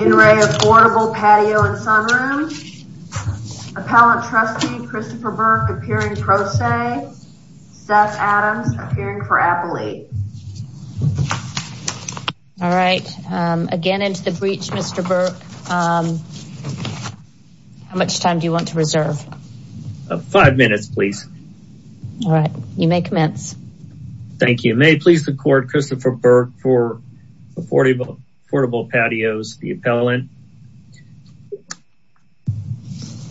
In re AFFORDABLE PATIOS & SUNROOMS, Appellant Trustee Christopher Burke appearing pro se, Seth Adams appearing for appellate. All right, again into the breach Mr. Burke, how much time do you want to reserve? Five minutes please. All right, you may commence. Thank you. May it please the court, Christopher Burke for affordable patios, the appellant.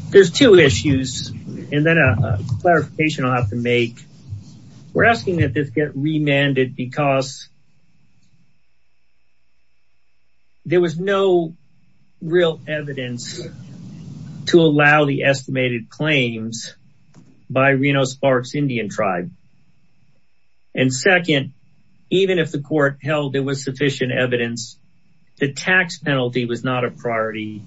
There's two issues and then a clarification I'll have to make. We're asking that this get remanded because there was no real evidence to allow the estimated claims by Reno Sparks Indian tribe. And second, even if the court held it was sufficient evidence, the tax penalty was not a priority.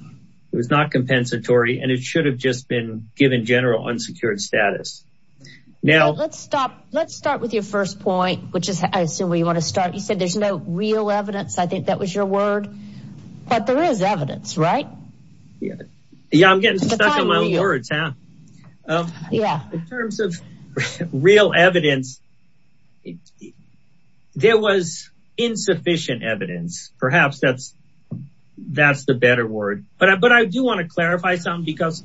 It was not compensatory and it should have just been given general unsecured status. Now let's stop. Let's start with your first point, which is I assume where you want to start. You said there's no real evidence. I think that was your word, but there is evidence, right? Yeah, I'm getting stuck on my own words. In terms of real evidence, there was insufficient evidence, perhaps that's the better word, but I do want to clarify something because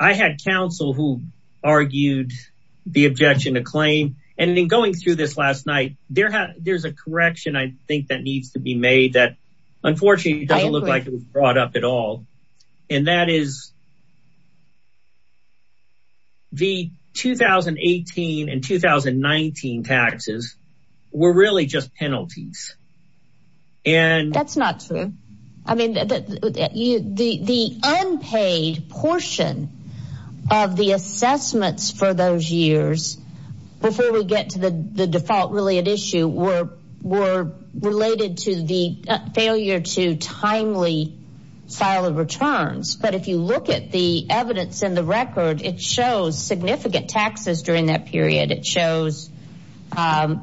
I had counsel who argued the objection to claim and then going through this last night, there's a correction I think that needs to be made that unfortunately doesn't look like it was brought up at all. And that is the 2018 and 2019 taxes were really just penalties. That's not true. I mean, the unpaid portion of the assessments for those years before we get to the default really at issue were related to the failure to timely file of returns. But if you look at the evidence in the record, it shows significant taxes during that period. It shows because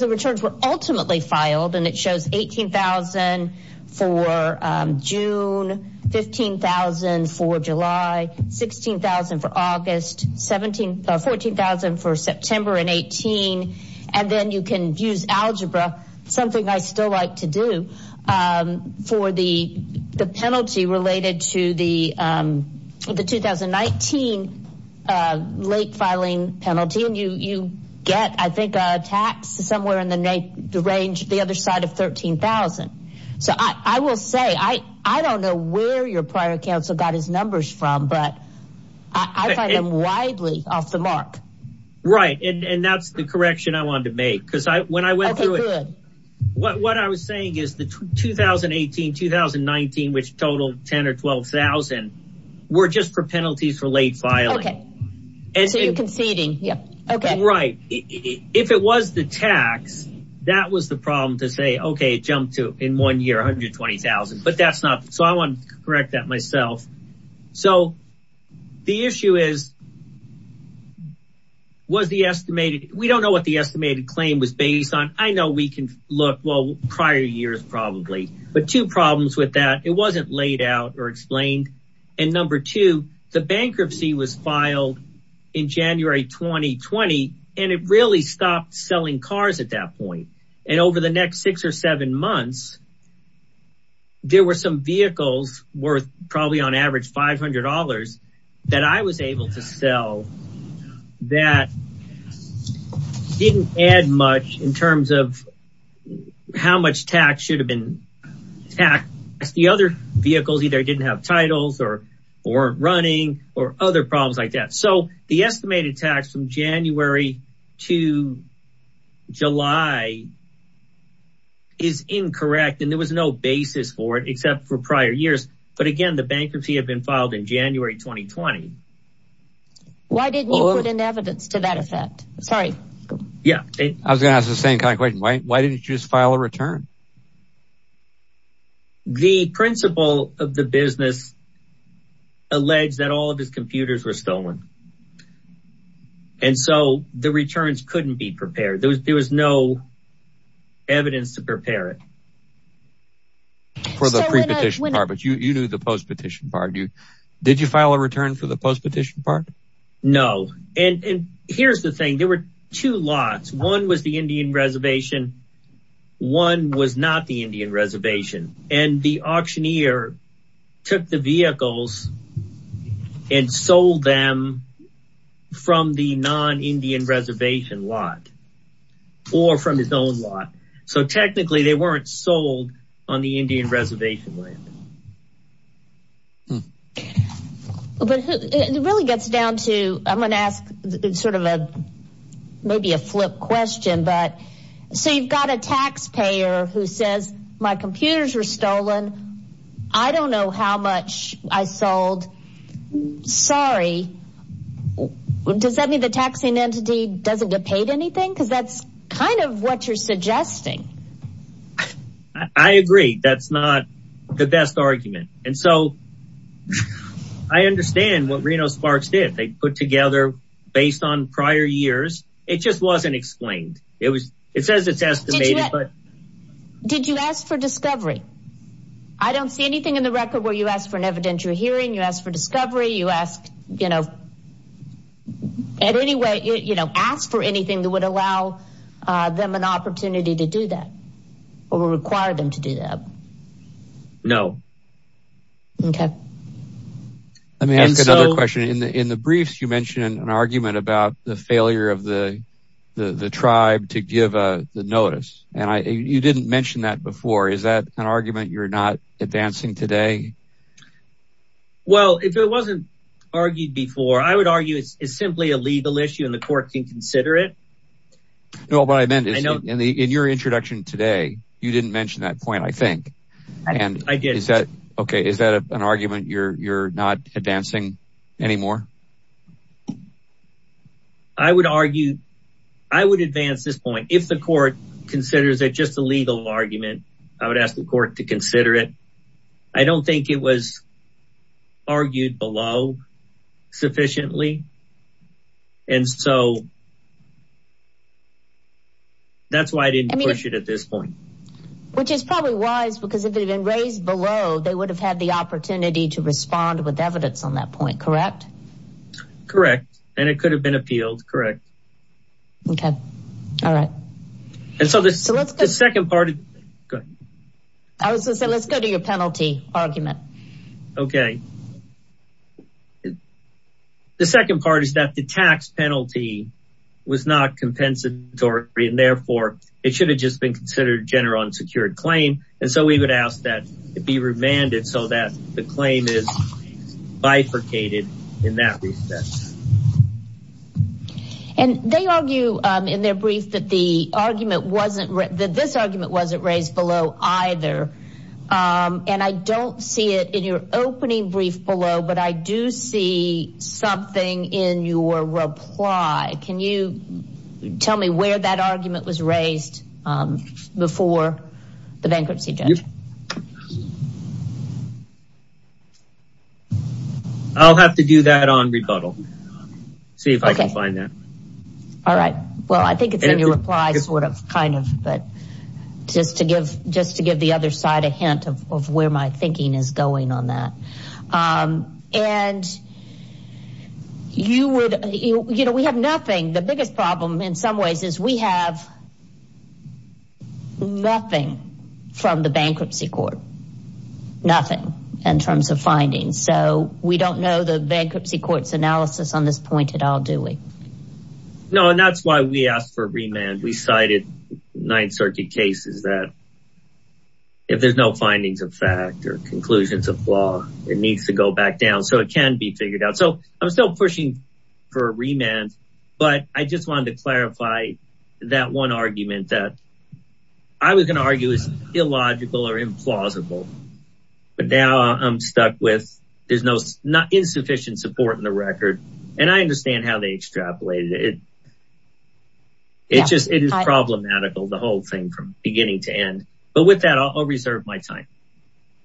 the returns were ultimately filed and it shows $18,000 for June, $15,000 for July, $16,000 for August, $14,000 for September in 2018. And then you can use algebra, something I still like to do, for the penalty related to the 2019 late filing penalty. You get, I think, a tax somewhere in the range, the other side of $13,000. So I will say, I don't know where your prior counsel got his numbers from, but I find them widely off the mark. Right. And that's the correction I wanted to make because when I went through it, what I was saying is the 2018, 2019, which totaled 10 or 12,000 were just for penalties for late filing. Okay. So you're conceding. Yeah. Okay. Right. If it was the tax, that was the problem to say, okay, it jumped to in one year, $120,000, but that's not, so I want to correct that myself. So the issue is, was the estimated, we don't know what the estimated claim was based on. I know we can look, well, prior years probably, but two problems with that, it wasn't laid out or explained. And number two, the bankruptcy was filed in January, 2020, and it really stopped selling cars at that point. And over the next six or seven months, there were some vehicles worth probably on average $500 that I was able to sell that didn't add much in terms of how much tax should have been taxed. The other vehicles either didn't have titles or weren't running or other problems like that. So the estimated tax from January to July is incorrect. And there was no basis for it except for prior years. But again, the bankruptcy had been filed in January, 2020. Why didn't you put in evidence to that effect? Sorry. Yeah. I was going to ask the same kind of question. Why didn't you just file a return? The principal of the business alleged that all of his computers were stolen. And so the returns couldn't be prepared. There was no evidence to prepare it for the pre-petition part, but you knew the post-petition part. Did you file a return for the post-petition part? No. And here's the thing. There were two lots. One was the Indian Reservation. One was not the Indian Reservation. And the auctioneer took the vehicles and sold them from the non-Indian Reservation lot or from his own lot. So technically, they weren't sold on the Indian Reservation land. But it really gets down to, I'm going to ask sort of a, maybe a flip question, but so you've got a taxpayer who says, my computers were stolen. I don't know how much I sold. Sorry. Does that mean the taxing entity doesn't get paid anything? Because that's kind of what you're suggesting. I agree. That's not the best argument. And so I understand what Reno Sparks did. They put together, based on prior years, it just wasn't explained. It says it's estimated, but... Did you ask for discovery? I don't see anything in the record where you asked for an evidentiary hearing, you asked for discovery, you asked, you know, at any rate, you know, asked for anything that would allow them an opportunity to do that, or require them to do that. No. Okay. Let me ask another question. In the briefs, you mentioned an argument about the failure of the tribe to give the notice. And you didn't mention that before. Is that an argument you're not advancing today? Well, if it wasn't argued before, I would argue it's simply a legal issue and the court can consider it. No, but what I meant is, in your introduction today, you didn't mention that point, I think. I didn't. Okay. Is that an argument you're not advancing anymore? I would argue, I would advance this point. If the court considers it just a legal argument, I would ask the court to consider it. I don't think it was argued below sufficiently. And so, that's why I didn't push it at this point. Which is probably wise, because if it had been raised below, they would have had the opportunity to respond with evidence on that point, correct? Correct. And it could have been appealed, correct. Okay. All right. And so, the second part of the thing, go ahead. I was going to say, let's go to your penalty argument. Okay. The second part is that the tax penalty was not compensatory, and therefore, it should have just been considered a general unsecured claim, and so we would ask that it be remanded so that the claim is bifurcated in that respect. And they argue in their brief that the argument wasn't, that this argument wasn't raised below either. And I don't see it in your opening brief below, but I do see something in your reply. Can you tell me where that argument was raised before the bankruptcy judge? I'll have to do that on rebuttal. See if I can find that. All right. Well, I think it's in your reply, sort of, kind of, but just to give the other side a hint of where my thinking is going on that. And you would, you know, we have nothing. The biggest problem in some ways is we have nothing from the bankruptcy court, nothing in terms of findings, so we don't know the bankruptcy court's analysis on this point at all, do we? No, and that's why we asked for a remand. We cited Ninth Circuit cases that if there's no findings of fact or conclusions of law, it needs to go back down so it can be figured out. So I'm still pushing for a remand, but I just wanted to clarify that one argument that I was going to argue is illogical or implausible, but now I'm stuck with there's no insufficient support in the record, and I understand how they extrapolated it. It just, it is problematical, the whole thing from beginning to end. But with that, I'll reserve my time.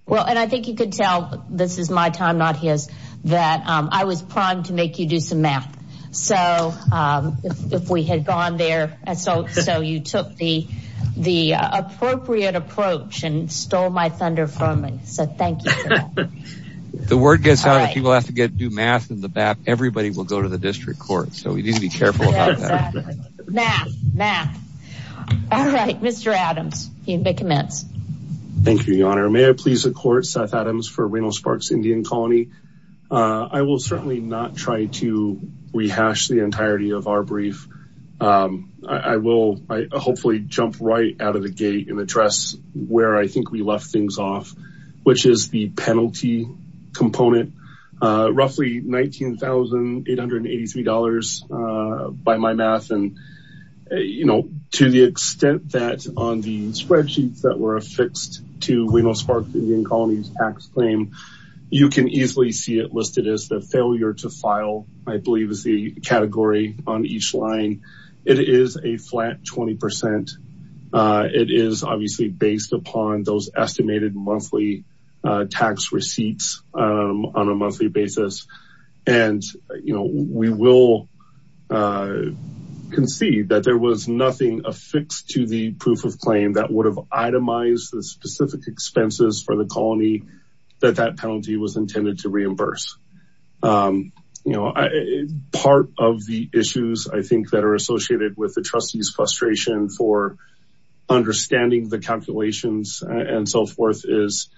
Well, and I think you could tell this is my time, not his, that I was primed to make you do some math. So if we had gone there, so you took the appropriate approach and stole my thunder from me. So thank you. If the word gets out that people have to do math in the back, everybody will go to the district court. So we need to be careful about that. Math, math. All right, Mr. Adams, you may commence. Thank you, Your Honor. May I please accord Seth Adams for Reno Sparks Indian Colony? I will certainly not try to rehash the entirety of our brief. I will hopefully jump right out of the gate and address where I think we left things off, which is the penalty component, roughly $19,883 by my math. And to the extent that on the spreadsheets that were affixed to Reno Sparks Indian Colony's tax claim, you can easily see it listed as the failure to file, I believe is the category on each line. It is a flat 20%. It is obviously based upon those estimated monthly tax receipts on a monthly basis. And we will concede that there was nothing affixed to the proof of claim that would have itemized the specific expenses for the colony that that penalty was intended to reimburse. You know, part of the issues I think that are associated with the trustee's frustration for understanding the calculations and so forth is,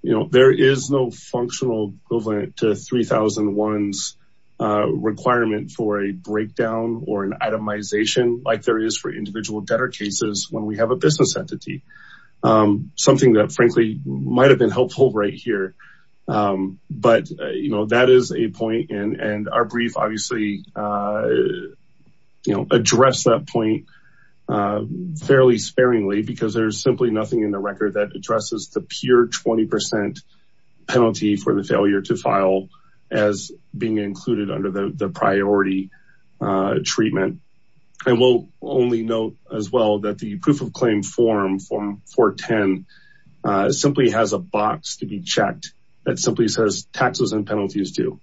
you know, there is no functional equivalent to 3001's requirement for a breakdown or an itemization like there is for individual debtor cases when we have a business entity. Something that frankly might've been helpful right here. But, you know, that is a point and our brief obviously, you know, address that point fairly sparingly because there's simply nothing in the record that addresses the pure 20% penalty for the failure to file as being included under the priority treatment. And we'll only note as well that the proof of claim form, form 410, simply has a box to be checked that simply says taxes and penalties do.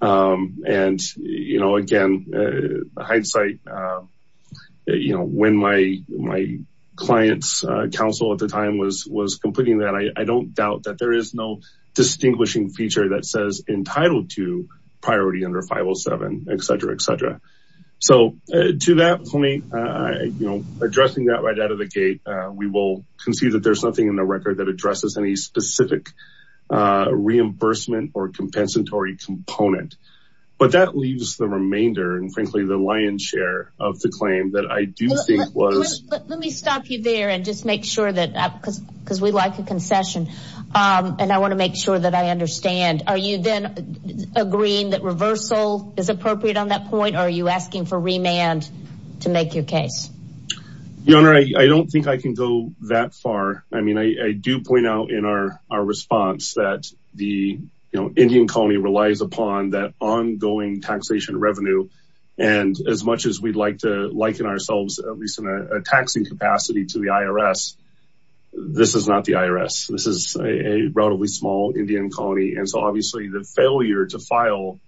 And you know, again, hindsight, you know, when my client's counsel at the time was completing that, I don't doubt that there is no distinguishing feature that says entitled to priority under 507, et cetera, et cetera. So to that, you know, addressing that right out of the gate, we will concede that there's nothing in the record that addresses any specific reimbursement or compensatory component, but that leaves the remainder and frankly, the lion's share of the claim that I do think was. Let me stop you there and just make sure that because we like a concession and I want to make sure that I understand, are you then agreeing that reversal is appropriate on that point? Are you asking for remand to make your case? Your Honor, I don't think I can go that far. I mean, I do point out in our, our response that the, you know, Indian colony relies upon that ongoing taxation revenue. And as much as we'd like to liken ourselves, at least in a taxing capacity to the IRS, this is not the IRS. This is a relatively small Indian colony. And so obviously the failure to file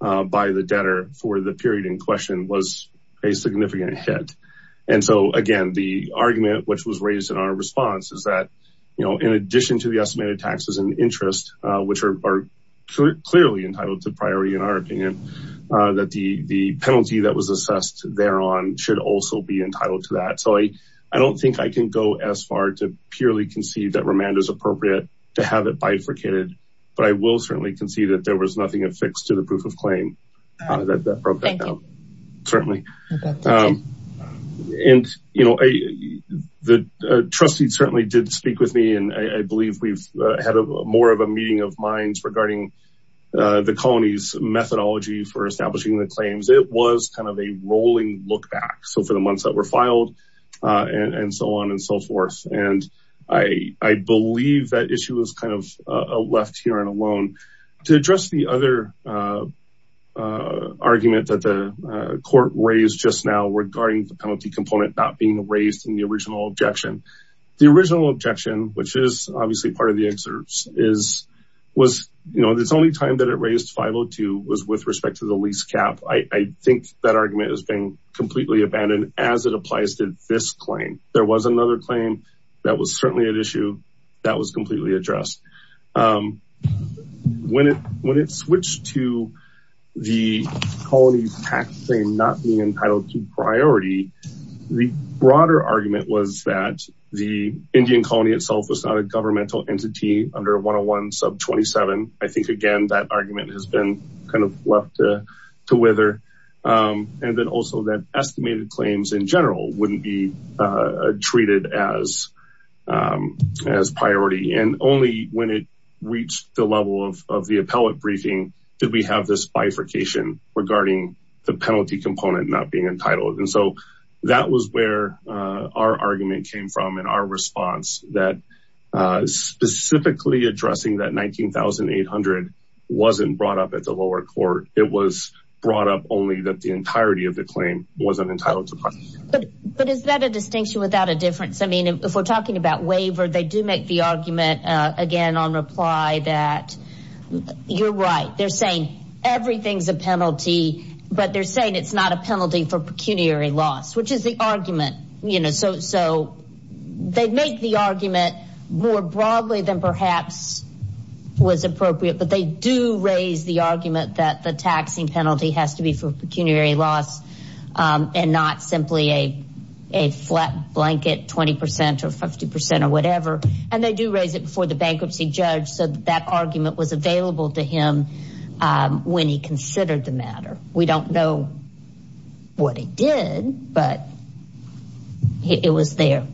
by the debtor for the period in question was a significant hit. And so again, the argument, which was raised in our response is that, you know, in addition to the estimated taxes and interest, which are clearly entitled to priority in our opinion, that the penalty that was assessed there on should also be entitled to that. So I don't think I can go as far to purely concede that remand is appropriate to have it bifurcated, but I will certainly concede that there was nothing affixed to the proof of claim. And that broke that down, certainly. And you know, the trustees certainly did speak with me and I believe we've had a more of a meeting of minds regarding the colonies methodology for establishing the claims. It was kind of a rolling look back. So for the months that were filed and so on and so forth. And I believe that issue was kind of left here and alone. To address the other argument that the court raised just now regarding the penalty component not being raised in the original objection, the original objection, which is obviously part of the excerpts is, was, you know, the only time that it raised 502 was with respect to the lease cap. I think that argument is being completely abandoned as it applies to this claim. There was another claim that was certainly an issue that was completely addressed. When it switched to the colony tax claim not being entitled to priority, the broader argument was that the Indian colony itself was not a governmental entity under 101 sub 27. I think, again, that argument has been kind of left to wither. And then also that estimated claims in general wouldn't be treated as priority. And only when it reached the level of the appellate briefing did we have this bifurcation regarding the penalty component not being entitled. And so that was where our argument came from and our response that specifically addressing that 19,800 wasn't brought up at the lower court. It was brought up only that the entirety of the claim wasn't entitled to. But is that a distinction without a difference? I mean, if we're talking about waiver, they do make the argument again on reply that you're right. They're saying everything's a penalty, but they're saying it's not a penalty for pecuniary loss, which is the argument, you know, so they make the argument more broadly than perhaps was appropriate. But they do raise the argument that the taxing penalty has to be for pecuniary loss and not simply a flat blanket 20 percent or 50 percent or whatever. And they do raise it before the bankruptcy judge. So that argument was available to him when he considered the matter. We don't know what he did, but it was there.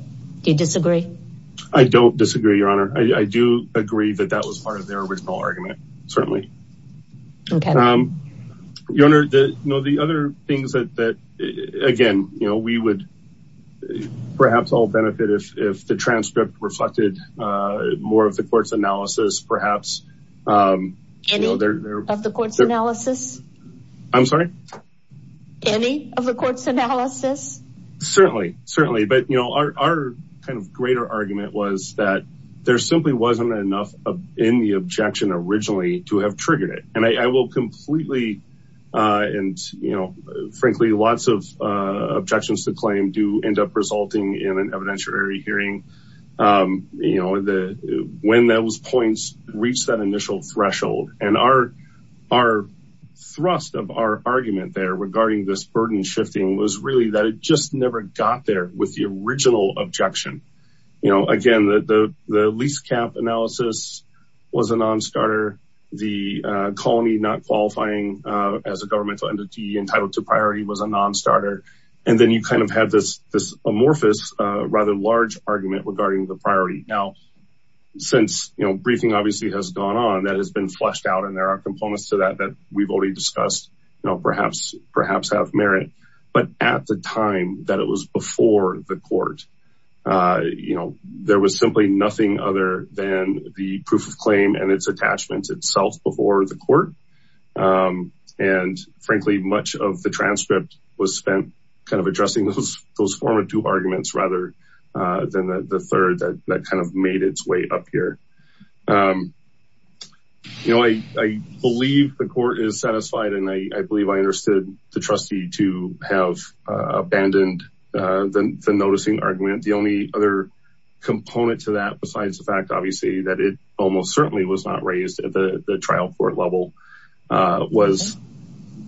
I don't disagree, Your Honor. I do agree that that was part of their original argument. Certainly. Your Honor, the other things that again, you know, we would perhaps all benefit if the transcript reflected more of the court's analysis, perhaps. Any of the court's analysis? I'm sorry? Any of the court's analysis? Certainly, certainly. But, you know, our kind of greater argument was that there simply wasn't enough in the objection originally to have triggered it. And I will completely and, you know, frankly, lots of objections to claim do end up resulting in an evidentiary hearing, you know, when those points reach that initial threshold. And our thrust of our argument there regarding this burden shifting was really that it just never got there with the original objection. You know, again, the lease cap analysis was a non-starter. The colony not qualifying as a governmental entity entitled to priority was a non-starter. And then you kind of had this amorphous, rather large argument regarding the priority. Now, since, you know, briefing obviously has gone on, that has been fleshed out and there are components to that that we've already discussed, you know, perhaps have merit. But at the time that it was before the court, you know, there was simply nothing other than the proof of claim and its attachments itself before the court. And frankly, much of the transcript was spent kind of addressing those former two arguments rather than the third that kind of made its way up here. You know, I believe the court is satisfied and I believe I understood the trustee to have abandoned the noticing argument. The only other component to that besides the fact, obviously, that it almost certainly was not raised at the trial court level was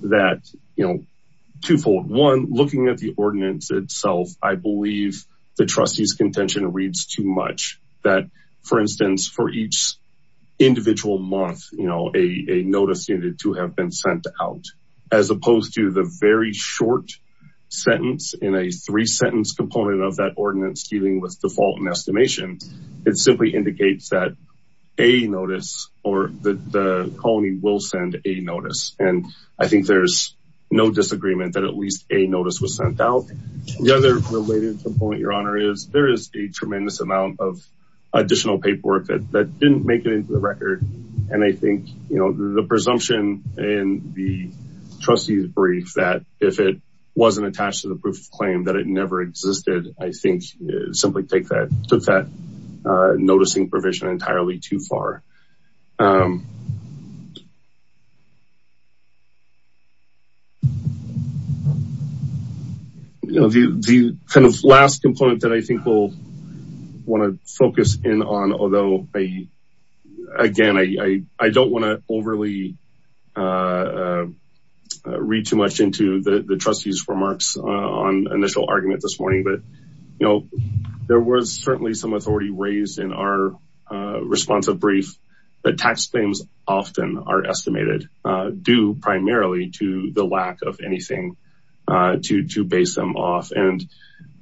that, you know, twofold. One, looking at the ordinance itself, I believe the trustee's contention reads too much that, for instance, for each individual month, you know, a notice needed to have been sent out as opposed to the very short sentence in a three sentence component of that ordinance dealing with default and estimation. It simply indicates that a notice or the colony will send a notice. And I think there's no disagreement that at least a notice was sent out. The other related component, Your Honor, is there is a tremendous amount of additional paperwork that didn't make it into the record. And I think, you know, the presumption in the trustee's brief that if it wasn't attached to the proof of claim that it never existed, I think simply take that, took that noticing provision entirely too far. The kind of last component that I think we'll want to focus in on, although, again, I don't want to overly read too much into the trustee's remarks on initial argument this morning, but, you know, there was certainly some authority raised in our responsive brief that tax claims often are estimated due primarily to the lack of anything to base them off. And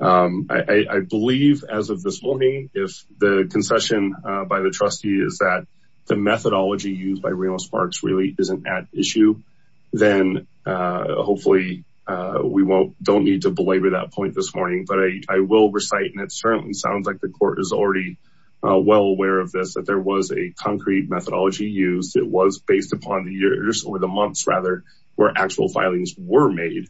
I believe as of this morning, if the concession by the trustee is that the methodology used by Reno Sparks really isn't at issue, then hopefully we don't need to belabor that point this morning. But I will recite, and it certainly sounds like the court is already well aware of this, that there was a concrete methodology used. It was based upon the years or the months, rather, where actual filings were made.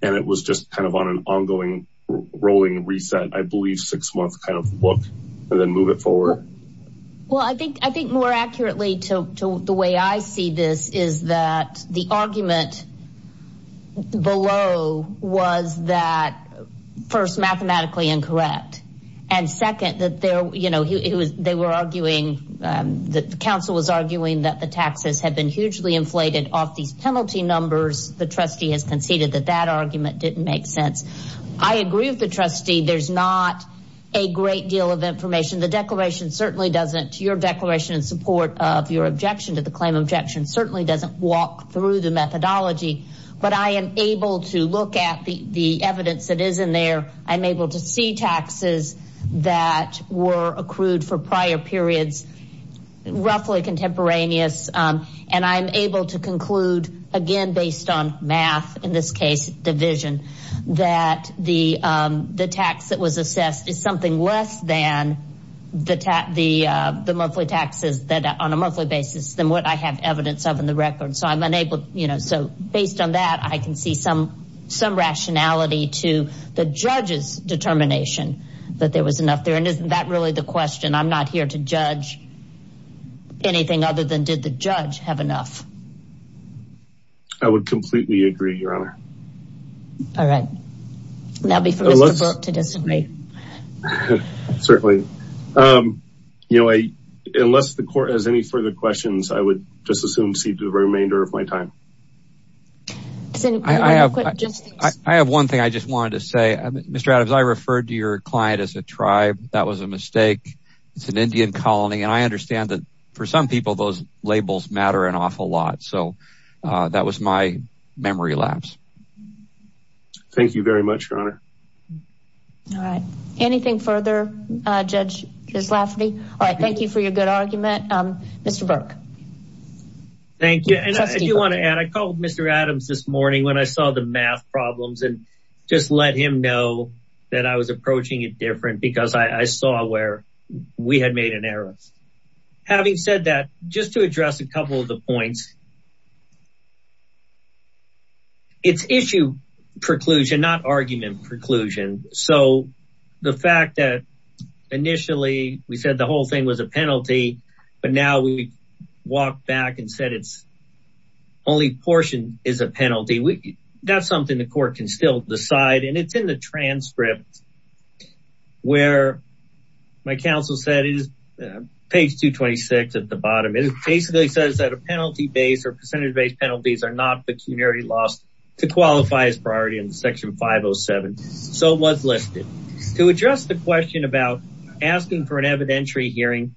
And it was just kind of on an ongoing rolling reset, I believe, six months kind of look and then move it forward. Well, I think more accurately to the way I see this is that the argument below was that first mathematically incorrect. And second, that there, you know, they were arguing, the council was arguing that the taxes had been hugely inflated off these penalty numbers. The trustee has conceded that that argument didn't make sense. I agree with the trustee. There's not a great deal of information. The declaration certainly doesn't, your declaration in support of your objection to the claim objection certainly doesn't walk through the methodology. But I am able to look at the evidence that is in there. I'm able to see taxes that were accrued for prior periods, roughly contemporaneous, and I'm able to conclude, again, based on math, in this case, division, that the tax that was assessed is something less than the monthly taxes that on a monthly basis than what I have evidence of in the record. So based on that, I can see some rationality to the judge's determination that there was enough there. And isn't that really the question? I'm not here to judge anything other than did the judge have enough? I would completely agree, Your Honor. Now before Mr. Burke to disagree. Certainly. Unless the court has any further questions, I would just assume to see the remainder of my time. I have one thing I just wanted to say, Mr. Adams, I referred to your client as a tribe. That was a mistake. It's an Indian colony. And I understand that for some people, those labels matter an awful lot. Thank you very much, Your Honor. All right. Anything further, Judge Zlaffy? All right. Thank you for your good argument, Mr. Burke. Thank you. And I do want to add, I called Mr. Adams this morning when I saw the math problems and just let him know that I was approaching it different because I saw where we had made an error. Having said that, just to address a couple of the points. It's issue preclusion, not argument preclusion. So the fact that initially we said the whole thing was a penalty, but now we walked back and said it's only portion is a penalty. That's something the court can still decide. And it's in the transcript where my counsel said it is page 226 at the bottom. It basically says that a penalty base or percentage based penalties are not pecuniary loss to qualify as priority in section 507. So it was listed. To address the question about asking for an evidentiary hearing,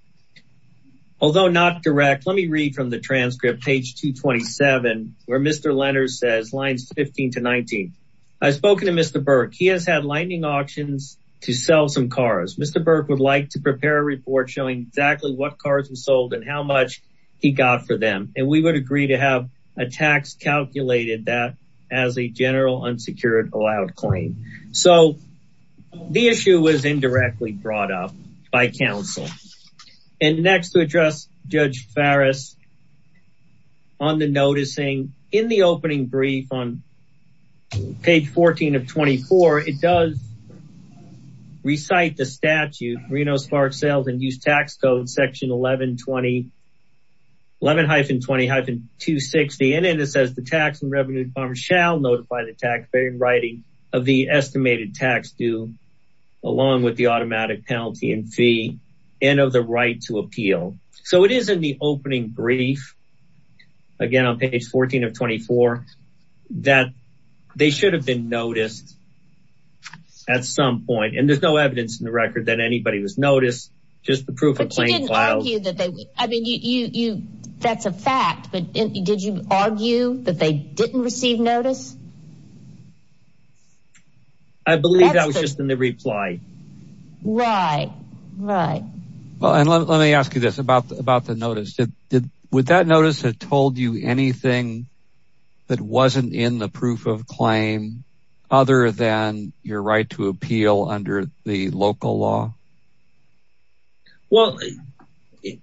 although not direct, let me read from the transcript page 227, where Mr. Lenders says lines 15 to 19. I've spoken to Mr. Burke. He has had lightning auctions to sell some cars. Mr. Burke would like to prepare a report showing exactly what cars were sold and how much he got for them. And we would agree to have a tax calculated that as a general unsecured allowed claim. So the issue was indirectly brought up by counsel. And next to address Judge Farris on the noticing in the opening brief on page 14 of 24. It does recite the statute Reno spark sales and use tax code section 1120. 11-20-260 and it says the tax and revenue department shall notify the taxpayer in writing of the estimated tax due along with the automatic penalty and fee and of the right to appeal. So it is in the opening brief again on page 14 of 24 that they should have been noticed at some point. And there's no evidence in the record that anybody was noticed. Just the proof of claim. I mean, that's a fact. But did you argue that they didn't receive notice? I believe that was just in the reply. Right, right. Well, and let me ask you this about the notice. Would that notice have told you anything that wasn't in the proof of claim other than your right to appeal under the local law? Well, it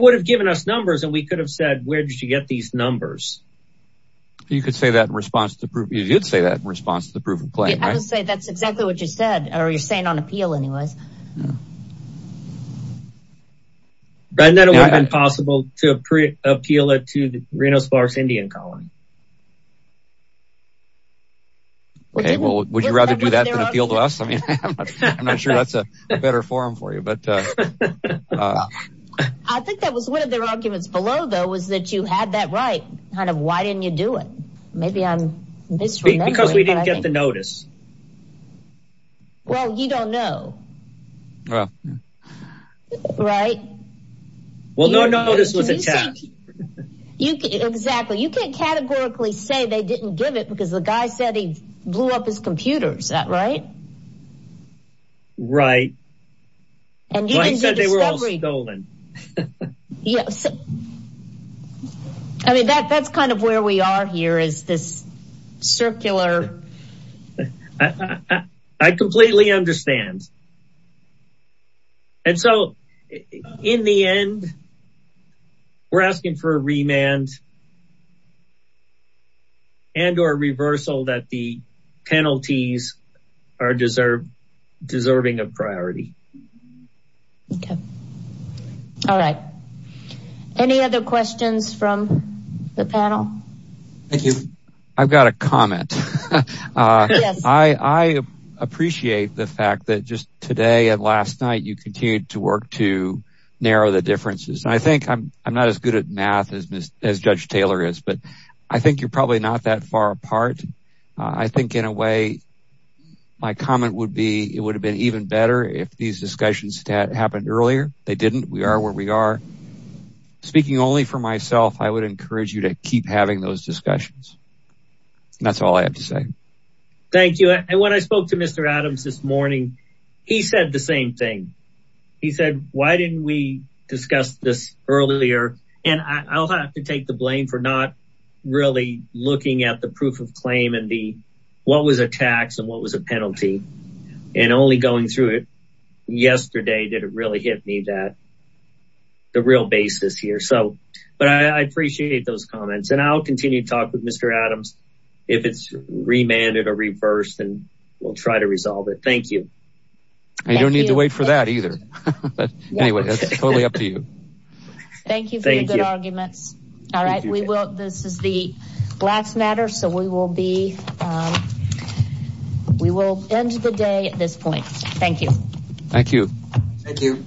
would have given us numbers. And we could have said, where did you get these numbers? You could say that in response to the proof. You did say that in response to the proof of claim. I would say that's exactly what you said. Or you're saying on appeal anyways. But then it would have been possible to appeal it to the Reno sparse Indian colony. Well, would you rather do that than appeal to us? I mean, I'm not sure that's a better forum for you. But I think that was one of their arguments below, though, was that you had that right. Kind of, why didn't you do it? Maybe I'm misremembering. Because we didn't get the notice. Well, you don't know. Right. Well, no notice was attached. Exactly. You can't categorically say they didn't give it, because the guy said he blew up his computer. Is that right? Right. He said they were all stolen. I mean, that's kind of where we are here is this circular. I completely understand. And so in the end, we're asking for a remand. And or reversal that the penalties are deserving of priority. Okay. All right. Any other questions from the panel? Thank you. I've got a comment. I appreciate the fact that just today and last night, you continued to work to narrow the differences. And I think I'm not as good at math as Judge Taylor is. I think you're probably not that far apart. I think in a way, my comment would be, it would have been even better if these discussions had happened earlier. They didn't. We are where we are. Speaking only for myself, I would encourage you to keep having those discussions. That's all I have to say. Thank you. And when I spoke to Mr. Adams this morning, he said the same thing. He said, why didn't we discuss this earlier? And I'll have to take the blame for not really looking at the proof of claim and what was a tax and what was a penalty. And only going through it yesterday, did it really hit me that the real basis here. But I appreciate those comments. And I'll continue to talk with Mr. Adams. If it's remanded or reversed, and we'll try to resolve it. Thank you. I don't need to wait for that either. Anyway, that's totally up to you. Thank you for your good arguments. All right. We will. This is the last matter. So we will be, we will end the day at this point. Thank you. Thank you. Thank you.